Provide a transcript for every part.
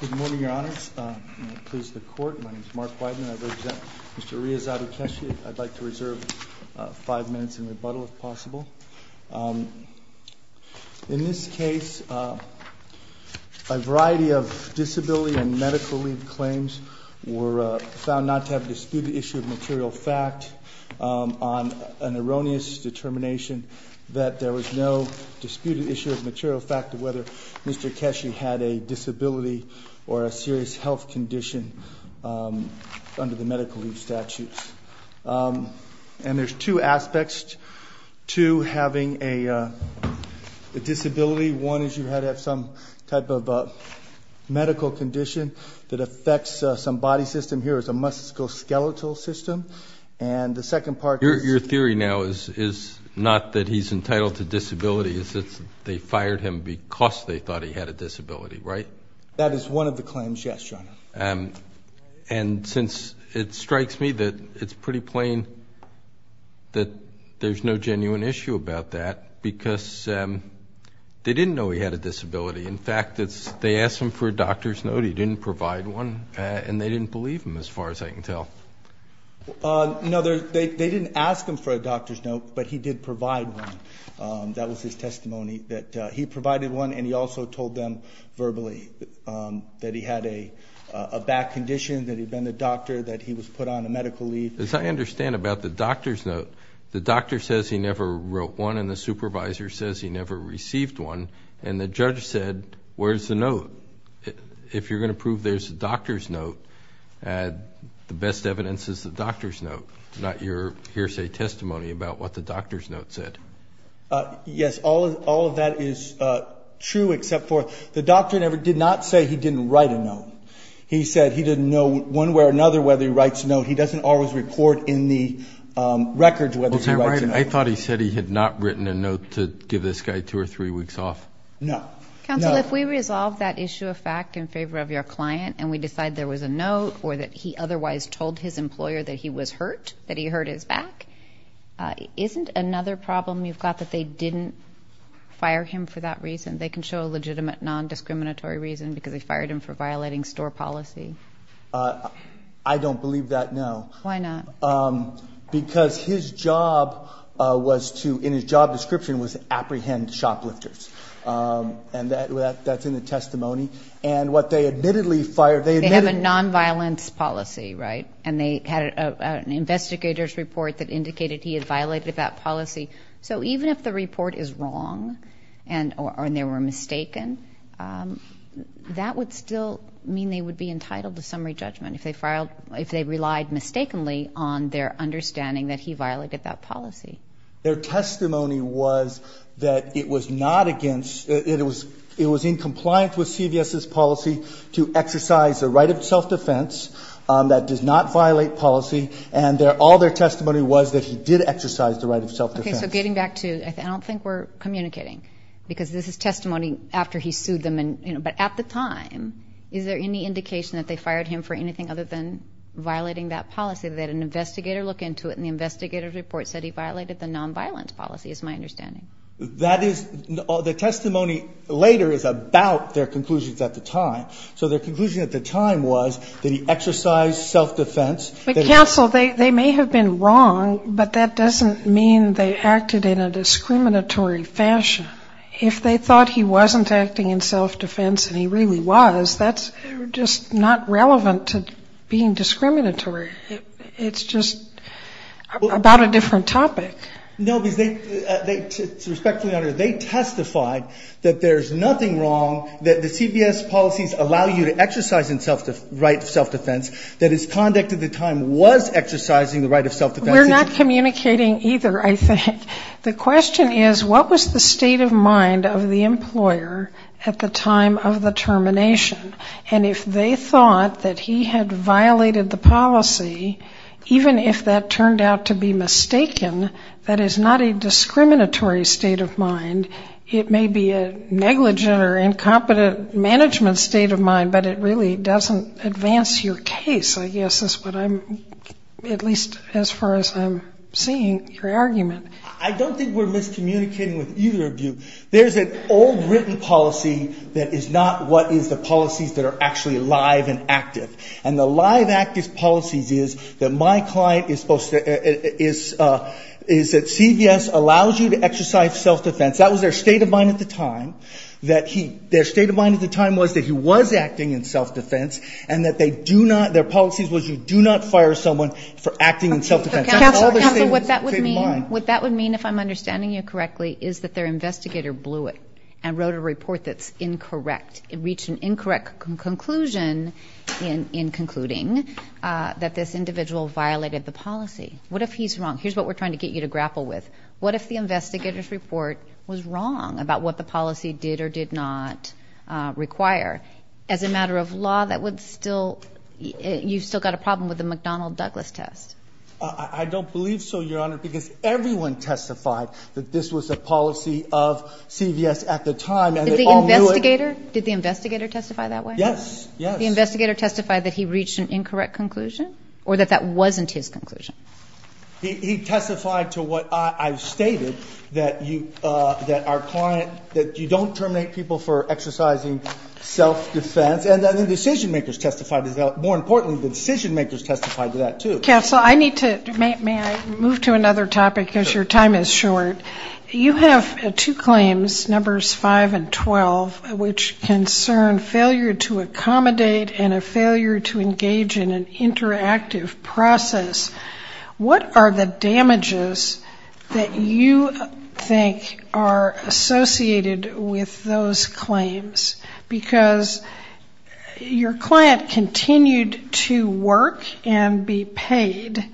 Good morning, Your Honors. Please, the Court. My name is Mark Weidman. I represent Mr. Rehazade Keshe. I'd like to reserve five minutes in rebuttal, if possible. In this case, a variety of disability and medical leave claims were found not to have disputed issue of material fact on an erroneous determination that there was no disputed issue of material fact of whether Mr. Keshe had a disability or a serious health condition under the medical leave statutes. And there's two aspects to having a disability. One is you had to have some type of medical condition that affects some body system. Here is a musculoskeletal system. And the second part is... Your theory now is not that he's entitled to disability. It's that they fired him because they thought he had a disability, right? That is one of the claims, yes, Your Honor. And since it strikes me that it's pretty plain that there's no genuine issue about that because they didn't know he had a disability. In fact, they asked him for a doctor's note. He didn't provide one, and they didn't believe him as far as I can tell. No, they didn't ask him for a doctor's note, but he did provide one. That was his testimony that he provided one, and he also told them verbally that he had a bad condition, that he'd been to the doctor, that he was put on a medical leave. As I understand about the doctor's note, the doctor says he never wrote one, and the supervisor says he never received one. And the judge said, where's the note? If you're going to prove there's a doctor's note, the best evidence is the doctor's note, not your hearsay testimony about what the doctor's note said. Yes, all of that is true, except for the doctor did not say he didn't write a note. He said he didn't know one way or another whether he writes a note. He doesn't always report in the records whether he writes a note. I thought he said he had not written a note to give this guy two or three weeks off. No. Counsel, if we resolve that issue of fact in favor of your client and we decide there was a note or that he otherwise told his employer that he was hurt, that he hurt his back, isn't another problem you've got that they didn't fire him for that reason? They can show a legitimate non-discriminatory reason because they fired him for violating store policy. I don't believe that, no. Why not? Because his job was to, in his job description, was to apprehend shoplifters, and that's in the testimony. And what they admittedly fired, they admittedly- They have a non-violence policy, right? And they had an investigator's report that indicated he had violated that policy. So even if the report is wrong and they were mistaken, that would still mean they would be entitled to summary judgment. If they relied mistakenly on their understanding that he violated that policy. Their testimony was that it was not against-it was in compliance with CVS's policy to exercise the right of self-defense that does not violate policy, and all their testimony was that he did exercise the right of self-defense. Okay, so getting back to-I don't think we're communicating because this is testimony after he sued them, but at the time, is there any indication that they fired him for anything other than violating that policy? They had an investigator look into it, and the investigator's report said he violated the non-violence policy, is my understanding. That is-the testimony later is about their conclusions at the time. So their conclusion at the time was that he exercised self-defense. But, counsel, they may have been wrong, but that doesn't mean they acted in a discriminatory fashion. If they thought he wasn't acting in self-defense and he really was, that's just not relevant to being discriminatory. It's just about a different topic. No, because they-respectfully, Your Honor, they testified that there's nothing wrong, that the CVS policies allow you to exercise the right of self-defense, that his conduct at the time was exercising the right of self-defense. We're not communicating either, I think. The question is, what was the state of mind of the employer at the time of the termination? And if they thought that he had violated the policy, even if that turned out to be mistaken, that is not a discriminatory state of mind. It may be a negligent or incompetent management state of mind, but it really doesn't advance your case, I guess, is what I'm-at least as far as I'm seeing your argument. I don't think we're miscommunicating with either of you. There's an old, written policy that is not what is the policies that are actually live and active. And the live, active policies is that my client is supposed to-is that CVS allows you to exercise self-defense. That was their state of mind at the time, that he-their state of mind at the time was that he was acting in self-defense and that they do not-their policies was you do not fire someone for acting in self-defense. Counsel, what that would mean-what that would mean, if I'm understanding you correctly, is that their investigator blew it and wrote a report that's incorrect. It reached an incorrect conclusion in concluding that this individual violated the policy. What if he's wrong? Here's what we're trying to get you to grapple with. What if the investigator's report was wrong about what the policy did or did not require? As a matter of law, that would still-you've still got a problem with the McDonnell-Douglas test. I don't believe so, Your Honor, because everyone testified that this was a policy of CVS at the time and they all knew it. Did the investigator-did the investigator testify that way? Yes, yes. The investigator testified that he reached an incorrect conclusion or that that wasn't his conclusion? He testified to what I stated, that you-that our client-that you don't terminate people for exercising self-defense. And then the decision-makers testified as well. More importantly, the decision-makers testified to that, too. Counsel, I need to-may I move to another topic because your time is short? Sure. You have two claims, Numbers 5 and 12, which concern failure to accommodate and a failure to engage in an interactive process. What are the damages that you think are associated with those claims? Because your client continued to work and be paid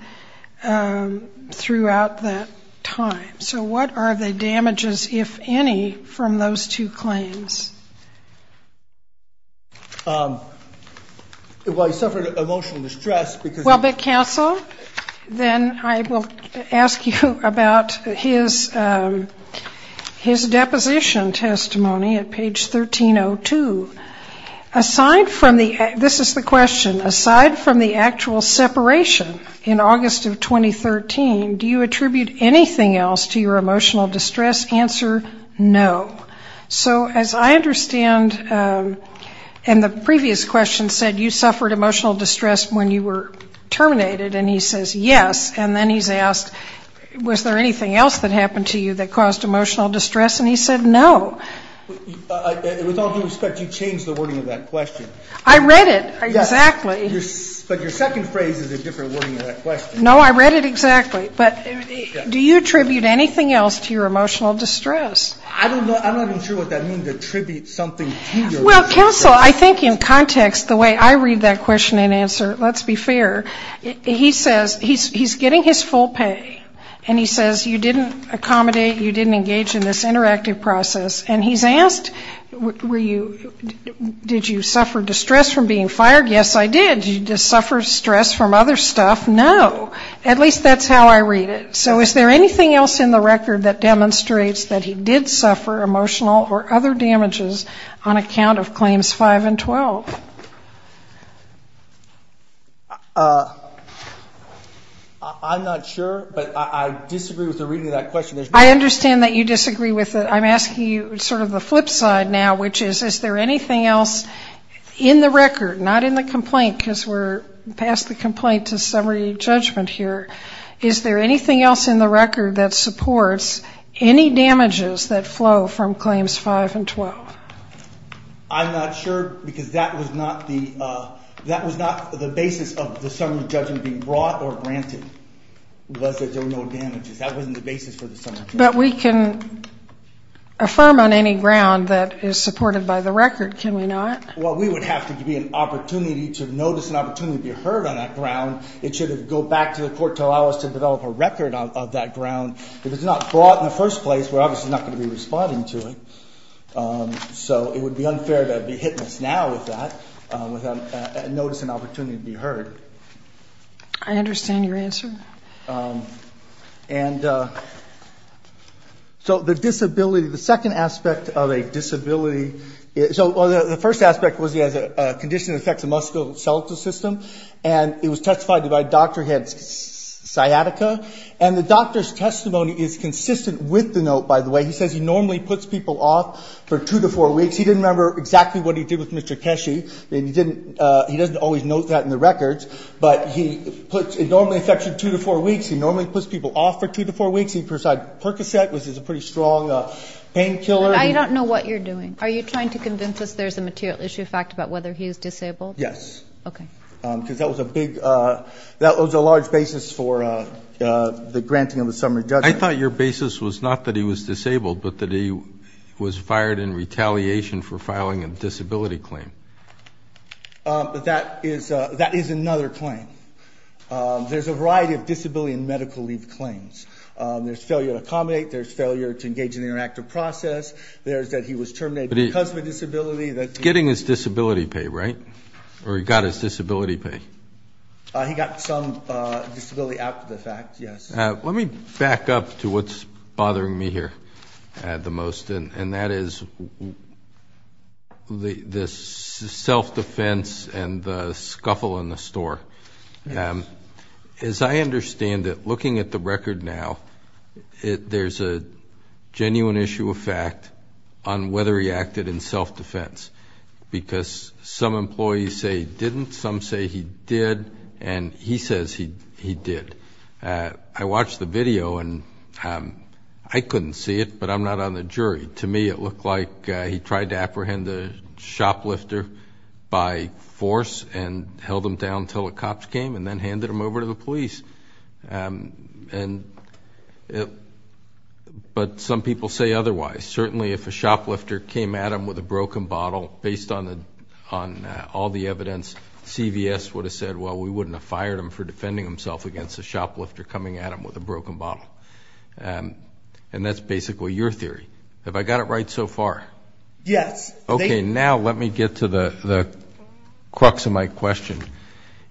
throughout that time. So what are the damages, if any, from those two claims? Well, he suffered emotional distress because- Well, but, Counsel, then I will ask you about his deposition testimony at page 1302. Aside from the-this is the question-aside from the actual separation in August of 2013, do you attribute anything else to your emotional distress? Answer, no. So as I understand-and the previous question said you suffered emotional distress when you were terminated. And he says, yes. And then he's asked, was there anything else that happened to you that caused emotional distress? And he said, no. With all due respect, you changed the wording of that question. I read it, exactly. But your second phrase is a different wording of that question. No, I read it exactly. But do you attribute anything else to your emotional distress? I don't know. I'm not even sure what that means, to attribute something to your emotional distress. Well, Counsel, I think in context, the way I read that question and answer, let's be fair, he says he's getting his full pay. And he says you didn't accommodate, you didn't engage in this interactive process. And he's asked, were you-did you suffer distress from being fired? Yes, I did. Did you suffer stress from other stuff? No. At least that's how I read it. So is there anything else in the record that demonstrates that he did suffer emotional or other damages on account of Claims 5 and 12? I'm not sure, but I disagree with the reading of that question. I understand that you disagree with it. I'm asking you sort of the flip side now, which is, is there anything else in the record, not in the complaint because we're past the complaint to summary judgment here, is there anything else in the record that supports any damages that flow from Claims 5 and 12? I'm not sure because that was not the basis of the summary judgment being brought or granted, was that there were no damages. That wasn't the basis for the summary judgment. But we can affirm on any ground that is supported by the record, can we not? Well, we would have to be an opportunity to notice an opportunity to be heard on that ground. It should go back to the court to allow us to develop a record of that ground. If it's not brought in the first place, we're obviously not going to be responding to it. So it would be unfair to be hitting us now with that, with a notice and opportunity to be heard. I understand your answer. And so the disability, the second aspect of a disability, so the first aspect was he has a condition that affects the musculoskeletal system, and it was testified to by a doctor he had sciatica. And the doctor's testimony is consistent with the note, by the way. He says he normally puts people off for two to four weeks. He didn't remember exactly what he did with Mr. Keshi. He doesn't always note that in the records. But he normally puts people off for two to four weeks. He presides percocet, which is a pretty strong painkiller. I don't know what you're doing. Are you trying to convince us there's a material issue fact about whether he is disabled? Yes. Okay. Because that was a large basis for the granting of a summary judgment. I thought your basis was not that he was disabled, but that he was fired in retaliation for filing a disability claim. That is another claim. There's a variety of disability and medical leave claims. There's failure to accommodate. There's failure to engage in the interactive process. There's that he was terminated because of a disability. He's getting his disability pay, right? Or he got his disability pay? He got some disability out of the fact, yes. Let me back up to what's bothering me here the most, and that is the self-defense and the scuffle in the store. As I understand it, looking at the record now, there's a genuine issue of fact on whether he acted in self-defense. Because some employees say he didn't, some say he did, and he says he did. I watched the video, and I couldn't see it, but I'm not on the jury. To me, it looked like he tried to apprehend the shoplifter by force and held him down until the cops came and then handed him over to the police. But some people say otherwise. Certainly, if a shoplifter came at him with a broken bottle, based on all the evidence, CVS would have said, well, we wouldn't have fired him for defending himself against a shoplifter coming at him with a broken bottle. And that's basically your theory. Have I got it right so far? Yes. Okay, now let me get to the crux of my question.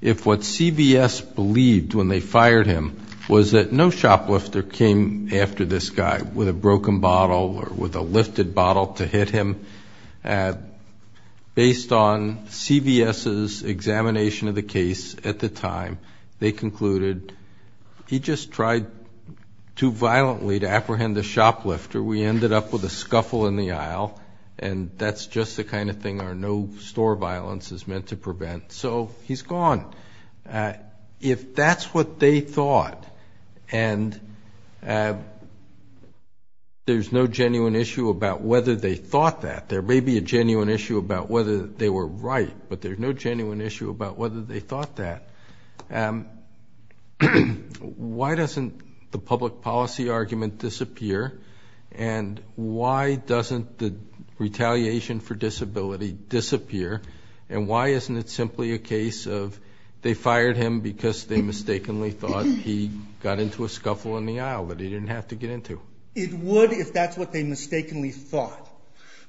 If what CVS believed when they fired him was that no shoplifter came after this guy with a broken bottle or with a lifted bottle to hit him, based on CVS's examination of the case at the time, they concluded, he just tried too violently to apprehend the shoplifter. We ended up with a scuffle in the aisle, and that's just the kind of thing our no-store violence is meant to prevent. So he's gone. If that's what they thought, and there's no genuine issue about whether they thought that, there may be a genuine issue about whether they were right, but there's no genuine issue about whether they thought that, why doesn't the public policy argument disappear? And why doesn't the retaliation for disability disappear? And why isn't it simply a case of, they fired him because they mistakenly thought he got into a scuffle in the aisle, but he didn't have to get into. It would if that's what they mistakenly thought.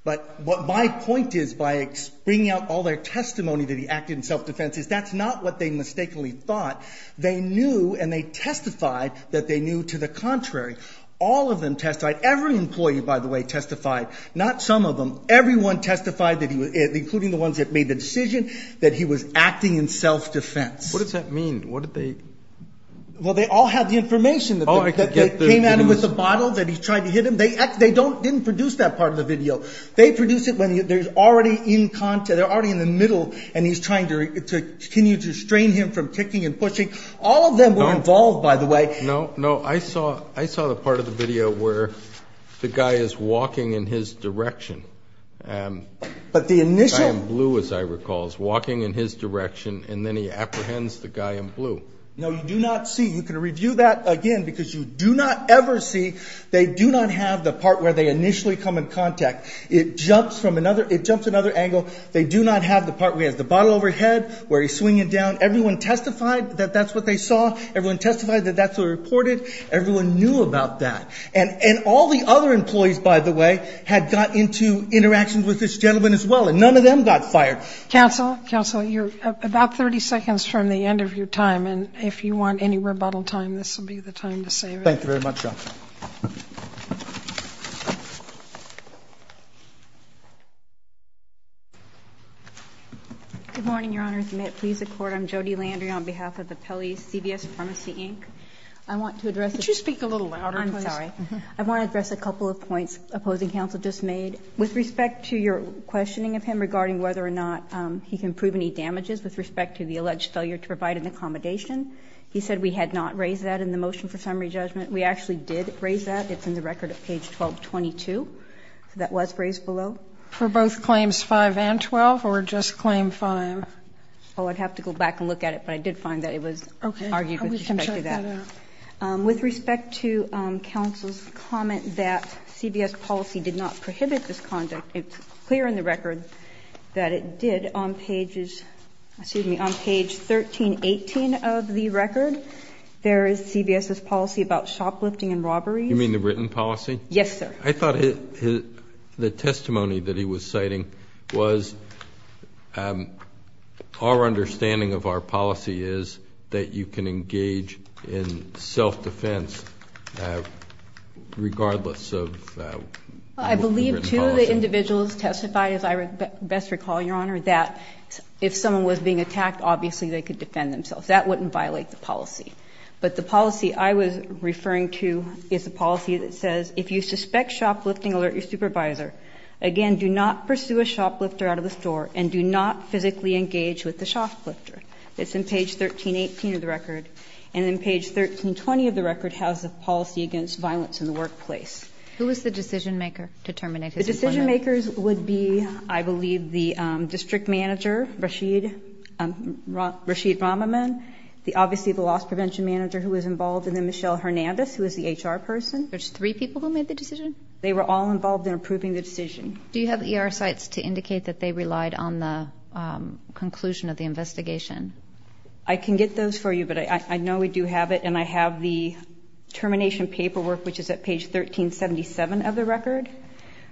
But my point is, by bringing out all their testimony that he acted in self-defense, is that's not what they mistakenly thought. They knew and they testified that they knew to the contrary. All of them testified. Every employee, by the way, testified. Not some of them. Everyone testified, including the ones that made the decision, that he was acting in self-defense. What does that mean? What did they... Well, they all had the information that they came at him with the bottle, that he tried to hit him. They didn't produce that part of the video. They produce it when they're already in the middle, and he's trying to continue to restrain him from kicking and pushing. All of them were involved, by the way. No, no. I saw the part of the video where the guy is walking in his direction. But the initial... He's walking in his direction, and then he apprehends the guy in blue. No, you do not see. You can review that again, because you do not ever see. They do not have the part where they initially come in contact. It jumps from another angle. They do not have the part where he has the bottle over his head, where he's swinging it down. Everyone testified that that's what they saw. Everyone testified that that's what was reported. Everyone knew about that. And all the other employees, by the way, had got into interactions with this gentleman as well, and none of them got fired. Counsel, counsel, you're about 30 seconds from the end of your time, and if you want any rebuttal time, this will be the time to save it. Thank you very much, Your Honor. Good morning, Your Honors. May it please the Court. I'm Jody Landry on behalf of the Pelley CVS Pharmacy, Inc. I want to address... Could you speak a little louder, please? I'm sorry. I want to address a couple of points opposing counsel just made. With respect to your questioning of him regarding whether or not he can prove any damages, with respect to the alleged failure to provide an accommodation, he said we had not raised that in the motion for summary judgment. We actually did raise that. It's in the record at page 1222. That was raised below. For both claims 5 and 12, or just claim 5? Oh, I'd have to go back and look at it, but I did find that it was argued with respect to that. Okay. I would check that out. With respect to counsel's comment that CVS's policy did not prohibit this conduct, it's clear in the record that it did. On page 1318 of the record, there is CVS's policy about shoplifting and robberies. You mean the written policy? Yes, sir. I thought the testimony that he was citing was our understanding of our policy is that you can engage in self-defense regardless of the written policy. I believe, too, that individuals testified, as I best recall, Your Honor, that if someone was being attacked, obviously they could defend themselves. That wouldn't violate the policy. But the policy I was referring to is the policy that says, if you suspect shoplifting, alert your supervisor. Again, do not pursue a shoplifter out of the store, and do not physically engage with the shoplifter. That's in page 1318 of the record. And then page 1320 of the record has the policy against violence in the workplace. Who was the decision-maker to terminate his employment? The decision-makers would be, I believe, the district manager, Rashid Ramaman, obviously the loss prevention manager who was involved, and then Michelle Hernandez, who was the HR person. There's three people who made the decision? They were all involved in approving the decision. Do you have ER sites to indicate that they relied on the conclusion of the investigation? I can get those for you, but I know we do have it. And I have the termination paperwork, which is at page 1377 of the record,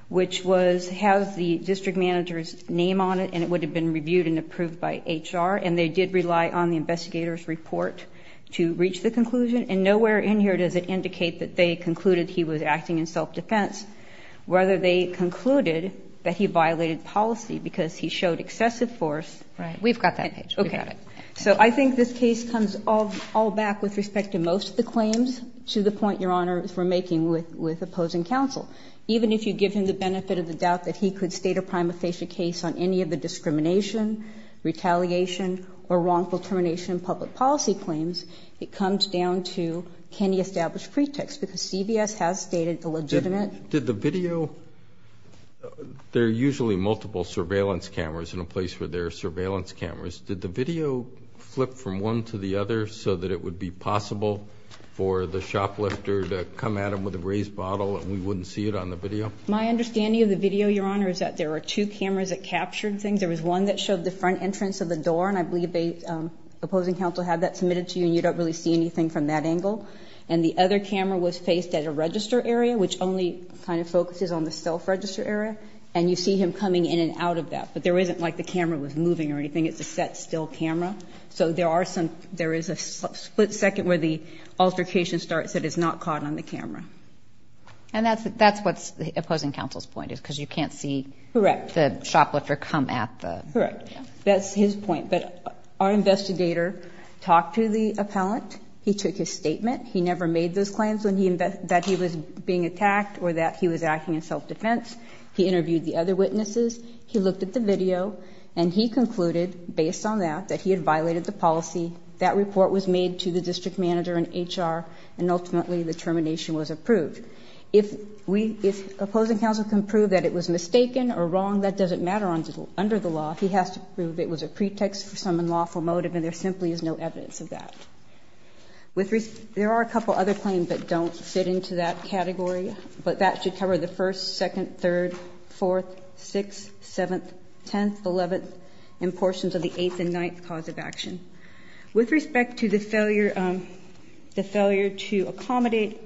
which has the district manager's name on it, and it would have been reviewed and approved by HR. And they did rely on the investigator's report to reach the conclusion. And nowhere in here does it indicate that they concluded he was acting in self-defense, whether they concluded that he violated policy because he showed excessive force. Right. We've got that page. Okay. So I think this case comes all back with respect to most of the claims, to the point, Your Honor, we're making with opposing counsel. Even if you give him the benefit of the doubt that he could state a prima facie case on any of the discrimination, retaliation, or wrongful termination public policy claims, it comes down to can he establish pretext? Because CVS has stated the legitimate. Did the video – there are usually multiple surveillance cameras in a place where there are surveillance cameras. Did the video flip from one to the other so that it would be possible for the shoplifter to come at him with a raised bottle and we wouldn't see it on the video? My understanding of the video, Your Honor, is that there are two cameras that captured things. There was one that showed the front entrance of the door, and I believe the opposing counsel had that submitted to you, and you don't really see anything from that angle. And the other camera was faced at a register area, which only kind of focuses on the self-register area, and you see him coming in and out of that. But there isn't like the camera was moving or anything. It's a set still camera. So there are some – there is a split second where the altercation starts that is not caught on the camera. And that's what's opposing counsel's point, is because you can't see the shoplifter come at the – Correct. That's his point. But our investigator talked to the appellant. He took his statement. He never made those claims that he was being attacked or that he was acting in self-defense. He interviewed the other witnesses. He looked at the video, and he concluded, based on that, that he had violated the policy. That report was made to the district manager and HR, and ultimately the termination was approved. If we – if opposing counsel can prove that it was mistaken or wrong, that doesn't matter under the law. He has to prove it was a pretext for some unlawful motive, and there simply is no evidence of that. There are a couple other claims that don't fit into that category, but that should cover the 1st, 2nd, 3rd, 4th, 6th, 7th, 10th, 11th, and portions of the 8th and 9th cause of action. With respect to the failure to accommodate,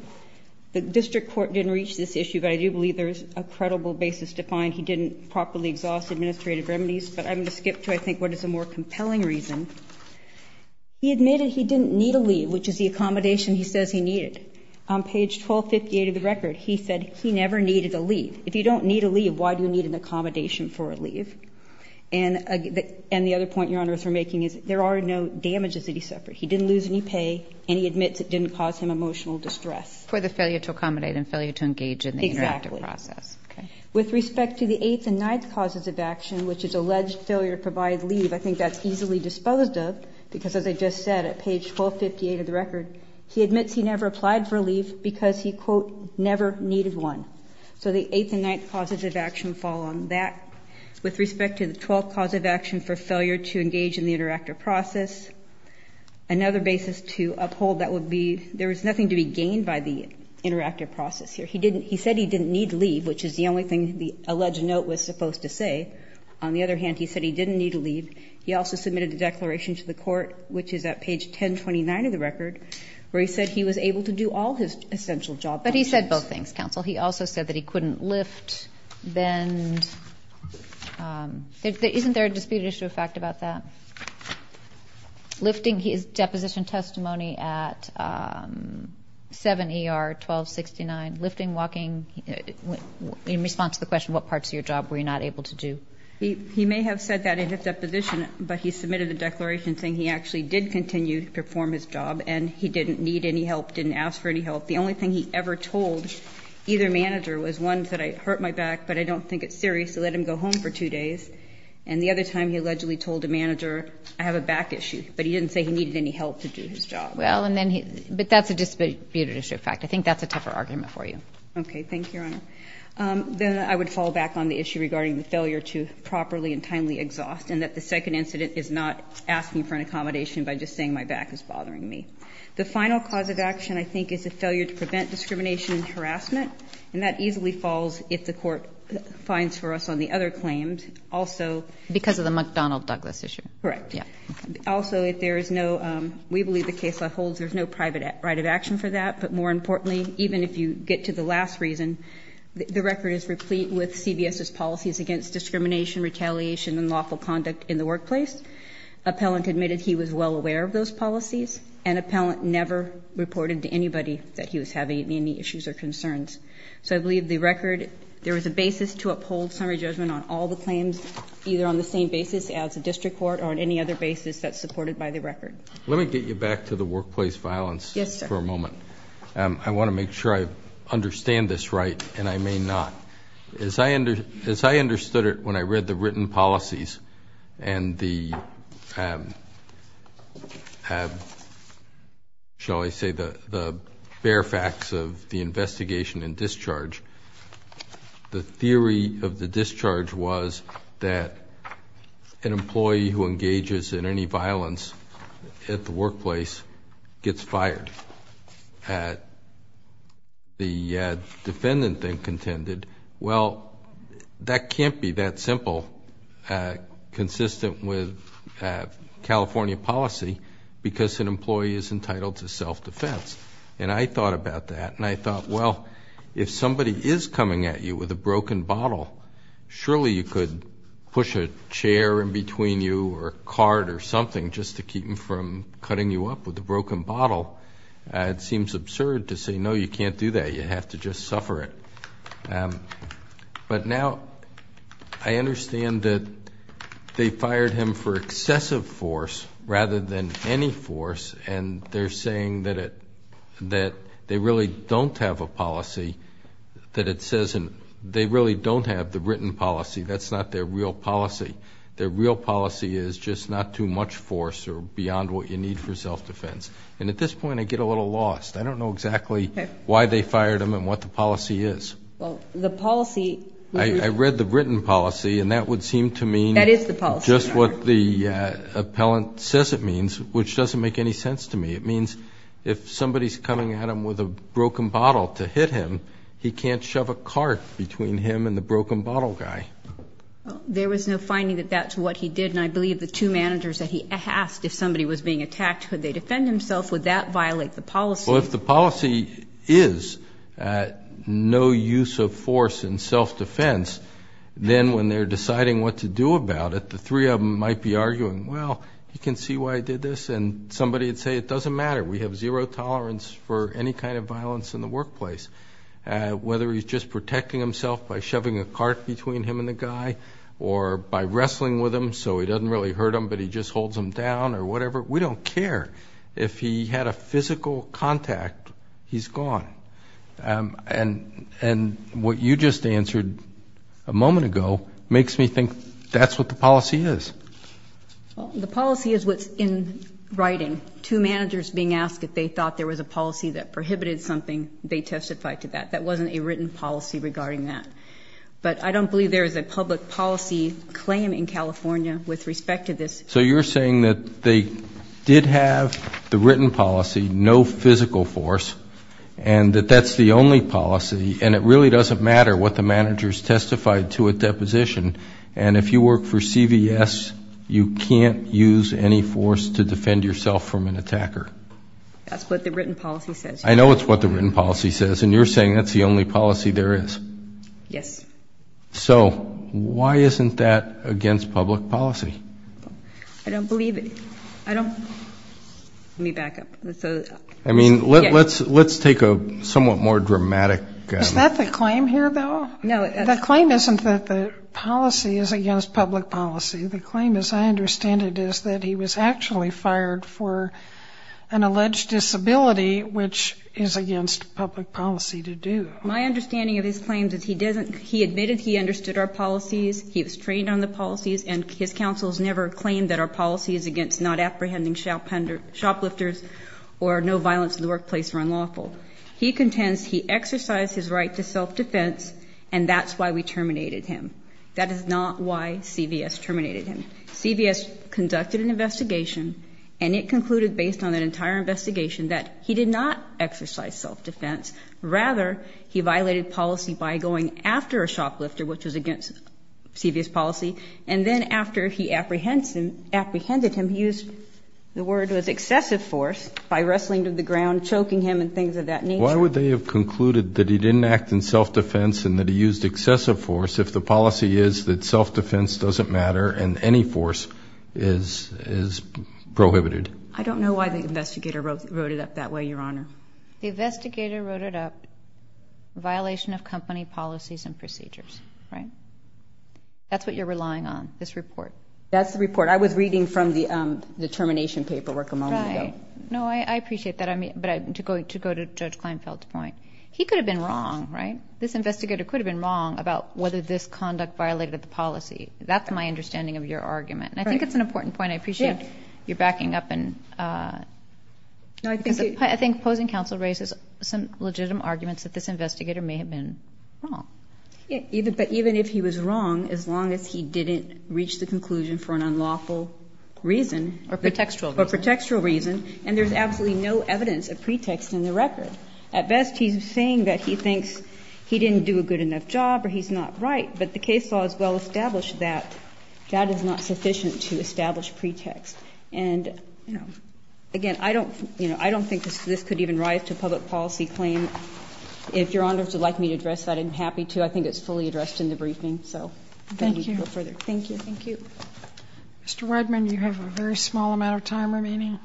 the district court didn't reach this issue, but I do believe there is a credible basis to find he didn't properly exhaust administrative remedies. But I'm going to skip to, I think, what is a more compelling reason. He admitted he didn't need a leave, which is the accommodation he says he needed. On page 1258 of the record, he said he never needed a leave. If you don't need a leave, why do you need an accommodation for a leave? And the other point Your Honors are making is there are no damages that he suffered. He didn't lose any pay, and he admits it didn't cause him emotional distress. For the failure to accommodate and failure to engage in the interactive process. Exactly. Okay. With respect to the 8th and 9th causes of action, which is alleged failure to provide leave, I think that's easily disposed of because, as I just said, at page 1258 of the record, he admits he never applied for leave because he, quote, never needed one. So the 8th and 9th causes of action fall on that. With respect to the 12th cause of action for failure to engage in the interactive process, another basis to uphold that would be there was nothing to be gained by the interactive process here. He said he didn't need leave, which is the only thing the alleged note was supposed to say. On the other hand, he said he didn't need a leave. He also submitted a declaration to the court, which is at page 1029 of the record, where he said he was able to do all his essential job. But he said both things, counsel. He also said that he couldn't lift, bend. Isn't there a disputed issue of fact about that? Lifting his deposition testimony at 7 ER 1269, lifting, walking. In response to the question, what parts of your job were you not able to do? He may have said that in his deposition, but he submitted a declaration saying he actually did continue to perform his job and he didn't need any help, didn't ask for any help. The only thing he ever told either manager was one that I hurt my back, but I don't think it's serious to let him go home for two days. And the other time he allegedly told the manager I have a back issue, but he didn't say he needed any help to do his job. Well, and then he, but that's a disputed issue of fact. Okay. Thank you, Your Honor. Then I would fall back on the issue regarding the failure to properly and timely exhaust and that the second incident is not asking for an accommodation by just saying my back is bothering me. The final cause of action I think is a failure to prevent discrimination and harassment. And that easily falls if the court finds for us on the other claims. Also. Because of the McDonald Douglas issue. Correct. Also, if there is no, we believe the case that holds, there's no private right of action for that. But more importantly, even if you get to the last reason, the record is replete with CBS's policies against discrimination, retaliation and lawful conduct in the workplace. Appellant admitted he was well aware of those policies and appellant never reported to anybody that he was having any issues or concerns. So I believe the record, there was a basis to uphold summary judgment on all the claims, either on the same basis as a district court or on any other basis that's Let me get you back to the workplace violence for a moment. I want to make sure I understand this right. And I may not. As I understood it, when I read the written policies and the shall I say the bare facts of the investigation and discharge, the theory of the discharge was that an employee who engages in any violence at the workplace gets fired. And the defendant then contended, well, that can't be that simple, consistent with California policy because an employee is entitled to self defense. And I thought about that and I thought, well, if somebody is coming at you with a broken bottle, surely you could push a chair in between you or card or something just to keep them from cutting you up with a broken bottle. It seems absurd to say, no, you can't do that. You have to just suffer it. But now I understand that they fired him for excessive force rather than any force. And they're saying that they really don't have a policy, that it says they really don't have the written policy. That's not their real policy. Their real policy is just not too much force or beyond what you need for self defense. And at this point I get a little lost. I don't know exactly why they fired him and what the policy is. I read the written policy and that would seem to mean just what the appellant says it means, which doesn't make any sense to me. It means if somebody is coming at him with a broken bottle to hit him, he can't shove a cart between him and the broken bottle guy. There was no finding that that's what he did. And I believe the two managers that he asked if somebody was being attacked, could they defend himself? Would that violate the policy? Well, if the policy is no use of force in self defense, then when they're deciding what to do about it, the three of them might be arguing, well, you can see why I did this. And somebody would say, it doesn't matter. We have zero tolerance for any kind of violence in the workplace. Whether he's just protecting himself by shoving a cart between him and the guy or by wrestling with him so he doesn't really hurt him but he just holds him down or whatever, we don't care. If he had a physical contact, he's gone. And what you just answered a moment ago makes me think that's what the policy is. The policy is what's in writing. Two managers being asked if they thought there was a policy that could be testified to that. That wasn't a written policy regarding that. But I don't believe there is a public policy claim in California with respect to this. So you're saying that they did have the written policy, no physical force, and that that's the only policy, and it really doesn't matter what the managers testified to at deposition. And if you work for CVS, you can't use any force to defend yourself from an attacker. That's what the written policy says. I know it's what the written policy says, and you're saying that's the only policy there is. Yes. So why isn't that against public policy? I don't believe it. I don't. Let me back up. I mean, let's take a somewhat more dramatic. Is that the claim here, though? No. The claim isn't that the policy is against public policy. The claim, as I understand it, is that he was actually fired for an alleged disability, which is against public policy to do. My understanding of his claims is he admitted he understood our policies, he was trained on the policies, and his counsels never claimed that our policies against not apprehending shoplifters or no violence in the workplace were unlawful. He contends he exercised his right to self-defense, and that's why we terminated him. That is not why CVS terminated him. CVS conducted an investigation, and it concluded based on that entire investigation that he did not exercise self-defense. Rather, he violated policy by going after a shoplifter, which was against CVS policy, and then after he apprehended him, he used the word was excessive force by wrestling to the ground, choking him and things of that nature. Why would they have concluded that he didn't act in self-defense and that he used excessive force if the policy is that self-defense doesn't matter and any violence by excessive force is prohibited? I don't know why the investigator wrote it up that way, Your Honor. The investigator wrote it up, violation of company policies and procedures, right? That's what you're relying on, this report. That's the report. I was reading from the determination paperwork a moment ago. Right. No, I appreciate that, but to go to Judge Kleinfeld's point, he could have been wrong, right? This investigator could have been wrong about whether this conduct violated the policy. That's my understanding of your argument. Right. And I think it's an important point. I appreciate your backing up. I think opposing counsel raises some legitimate arguments that this investigator may have been wrong. But even if he was wrong, as long as he didn't reach the conclusion for an unlawful reason. Or pretextual reason. Or pretextual reason. And there's absolutely no evidence of pretext in the record. At best, he's saying that he thinks he didn't do a good enough job or he's not right, but the case law has well established that. That is not sufficient to establish pretext. And again, I don't think this could even rise to a public policy claim. If Your Honors would like me to address that, I'm happy to. I think it's fully addressed in the briefing. Thank you. Thank you. Thank you. Mr. Wideman, you have a very small amount of time remaining.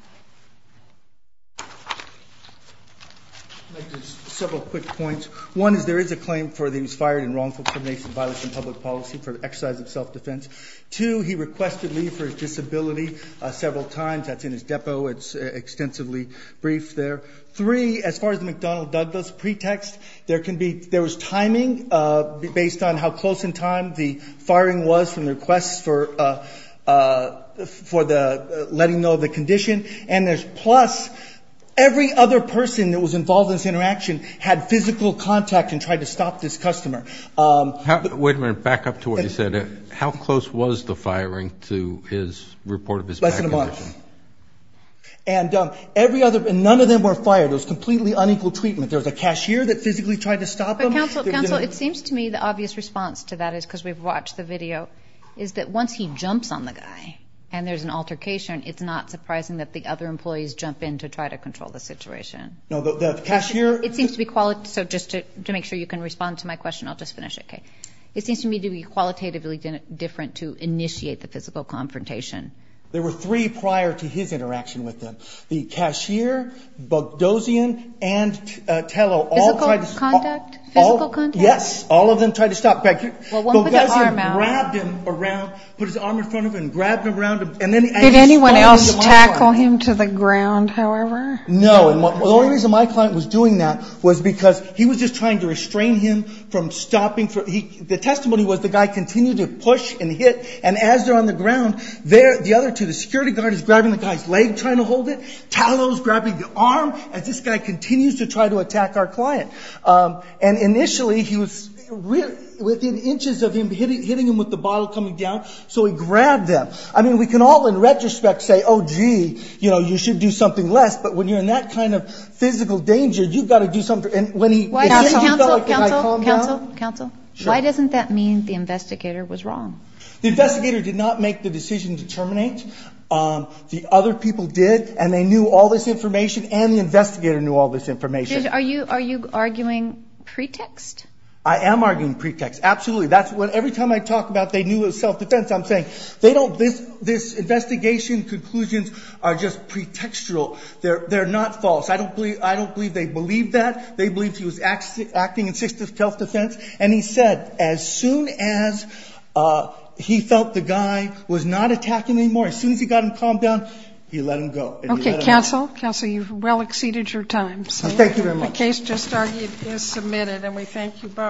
I'd like to make several quick points. One is there is a claim for he was fired in wrongful criminalization of violence in public policy for the exercise of self-defense. Two, he requested leave for his disability several times. That's in his depot. It's extensively briefed there. Three, as far as the McDonnell Douglas pretext, there was timing based on how close in time the firing was from the request for letting know the condition. And there's plus every other person that was involved in this interaction had physical contact and tried to stop this customer. Wait a minute. Back up to what you said. How close was the firing to his report of his back condition? Less than a month. And every other, none of them were fired. It was completely unequal treatment. There was a cashier that physically tried to stop him. Counsel, it seems to me the obvious response to that is because we've watched the video, is that once he jumps on the guy and there's an altercation, it's not surprising that the other employees jump in to try to control the situation. No, the cashier. It seems to be qualitative. So just to make sure you can respond to my question, I'll just finish it. Okay. It seems to me to be qualitatively different to initiate the physical confrontation. There were three prior to his interaction with them. The cashier, Bogdossian, and Tello all tried to stop. Physical contact? Physical contact? Yes. All of them tried to stop. Well, one with the arm out. Bogdossian grabbed him around, put his arm in front of him and grabbed him around. Did anyone else tackle him to the ground, however? No. The only reason my client was doing that was because he was just trying to restrain him from stopping. The testimony was the guy continued to push and hit. And as they're on the ground, the other two, the security guard is grabbing the guy's leg, trying to hold it. Tello is grabbing the arm as this guy continues to try to attack our client. And initially he was within inches of him hitting him with the bottle coming down, so he grabbed them. I mean, we can all, in retrospect, say, oh, gee, you know, you should do something less. But when you're in that kind of physical danger, you've got to do something. Counsel, counsel, counsel. Why doesn't that mean the investigator was wrong? The investigator did not make the decision to terminate. The other people did, and they knew all this information, and the investigator knew all this information. Are you arguing pretext? I am arguing pretext, absolutely. Every time I talk about they knew it was self-defense, I'm saying this investigation conclusions are just pretextual. They're not false. I don't believe they believed that. They believed he was acting in self-defense. And he said as soon as he felt the guy was not attacking him anymore, as soon as he got him calmed down, he let him go. Okay, counsel, counsel, you've well exceeded your time. Thank you very much. The case just argued is submitted, and we thank you both.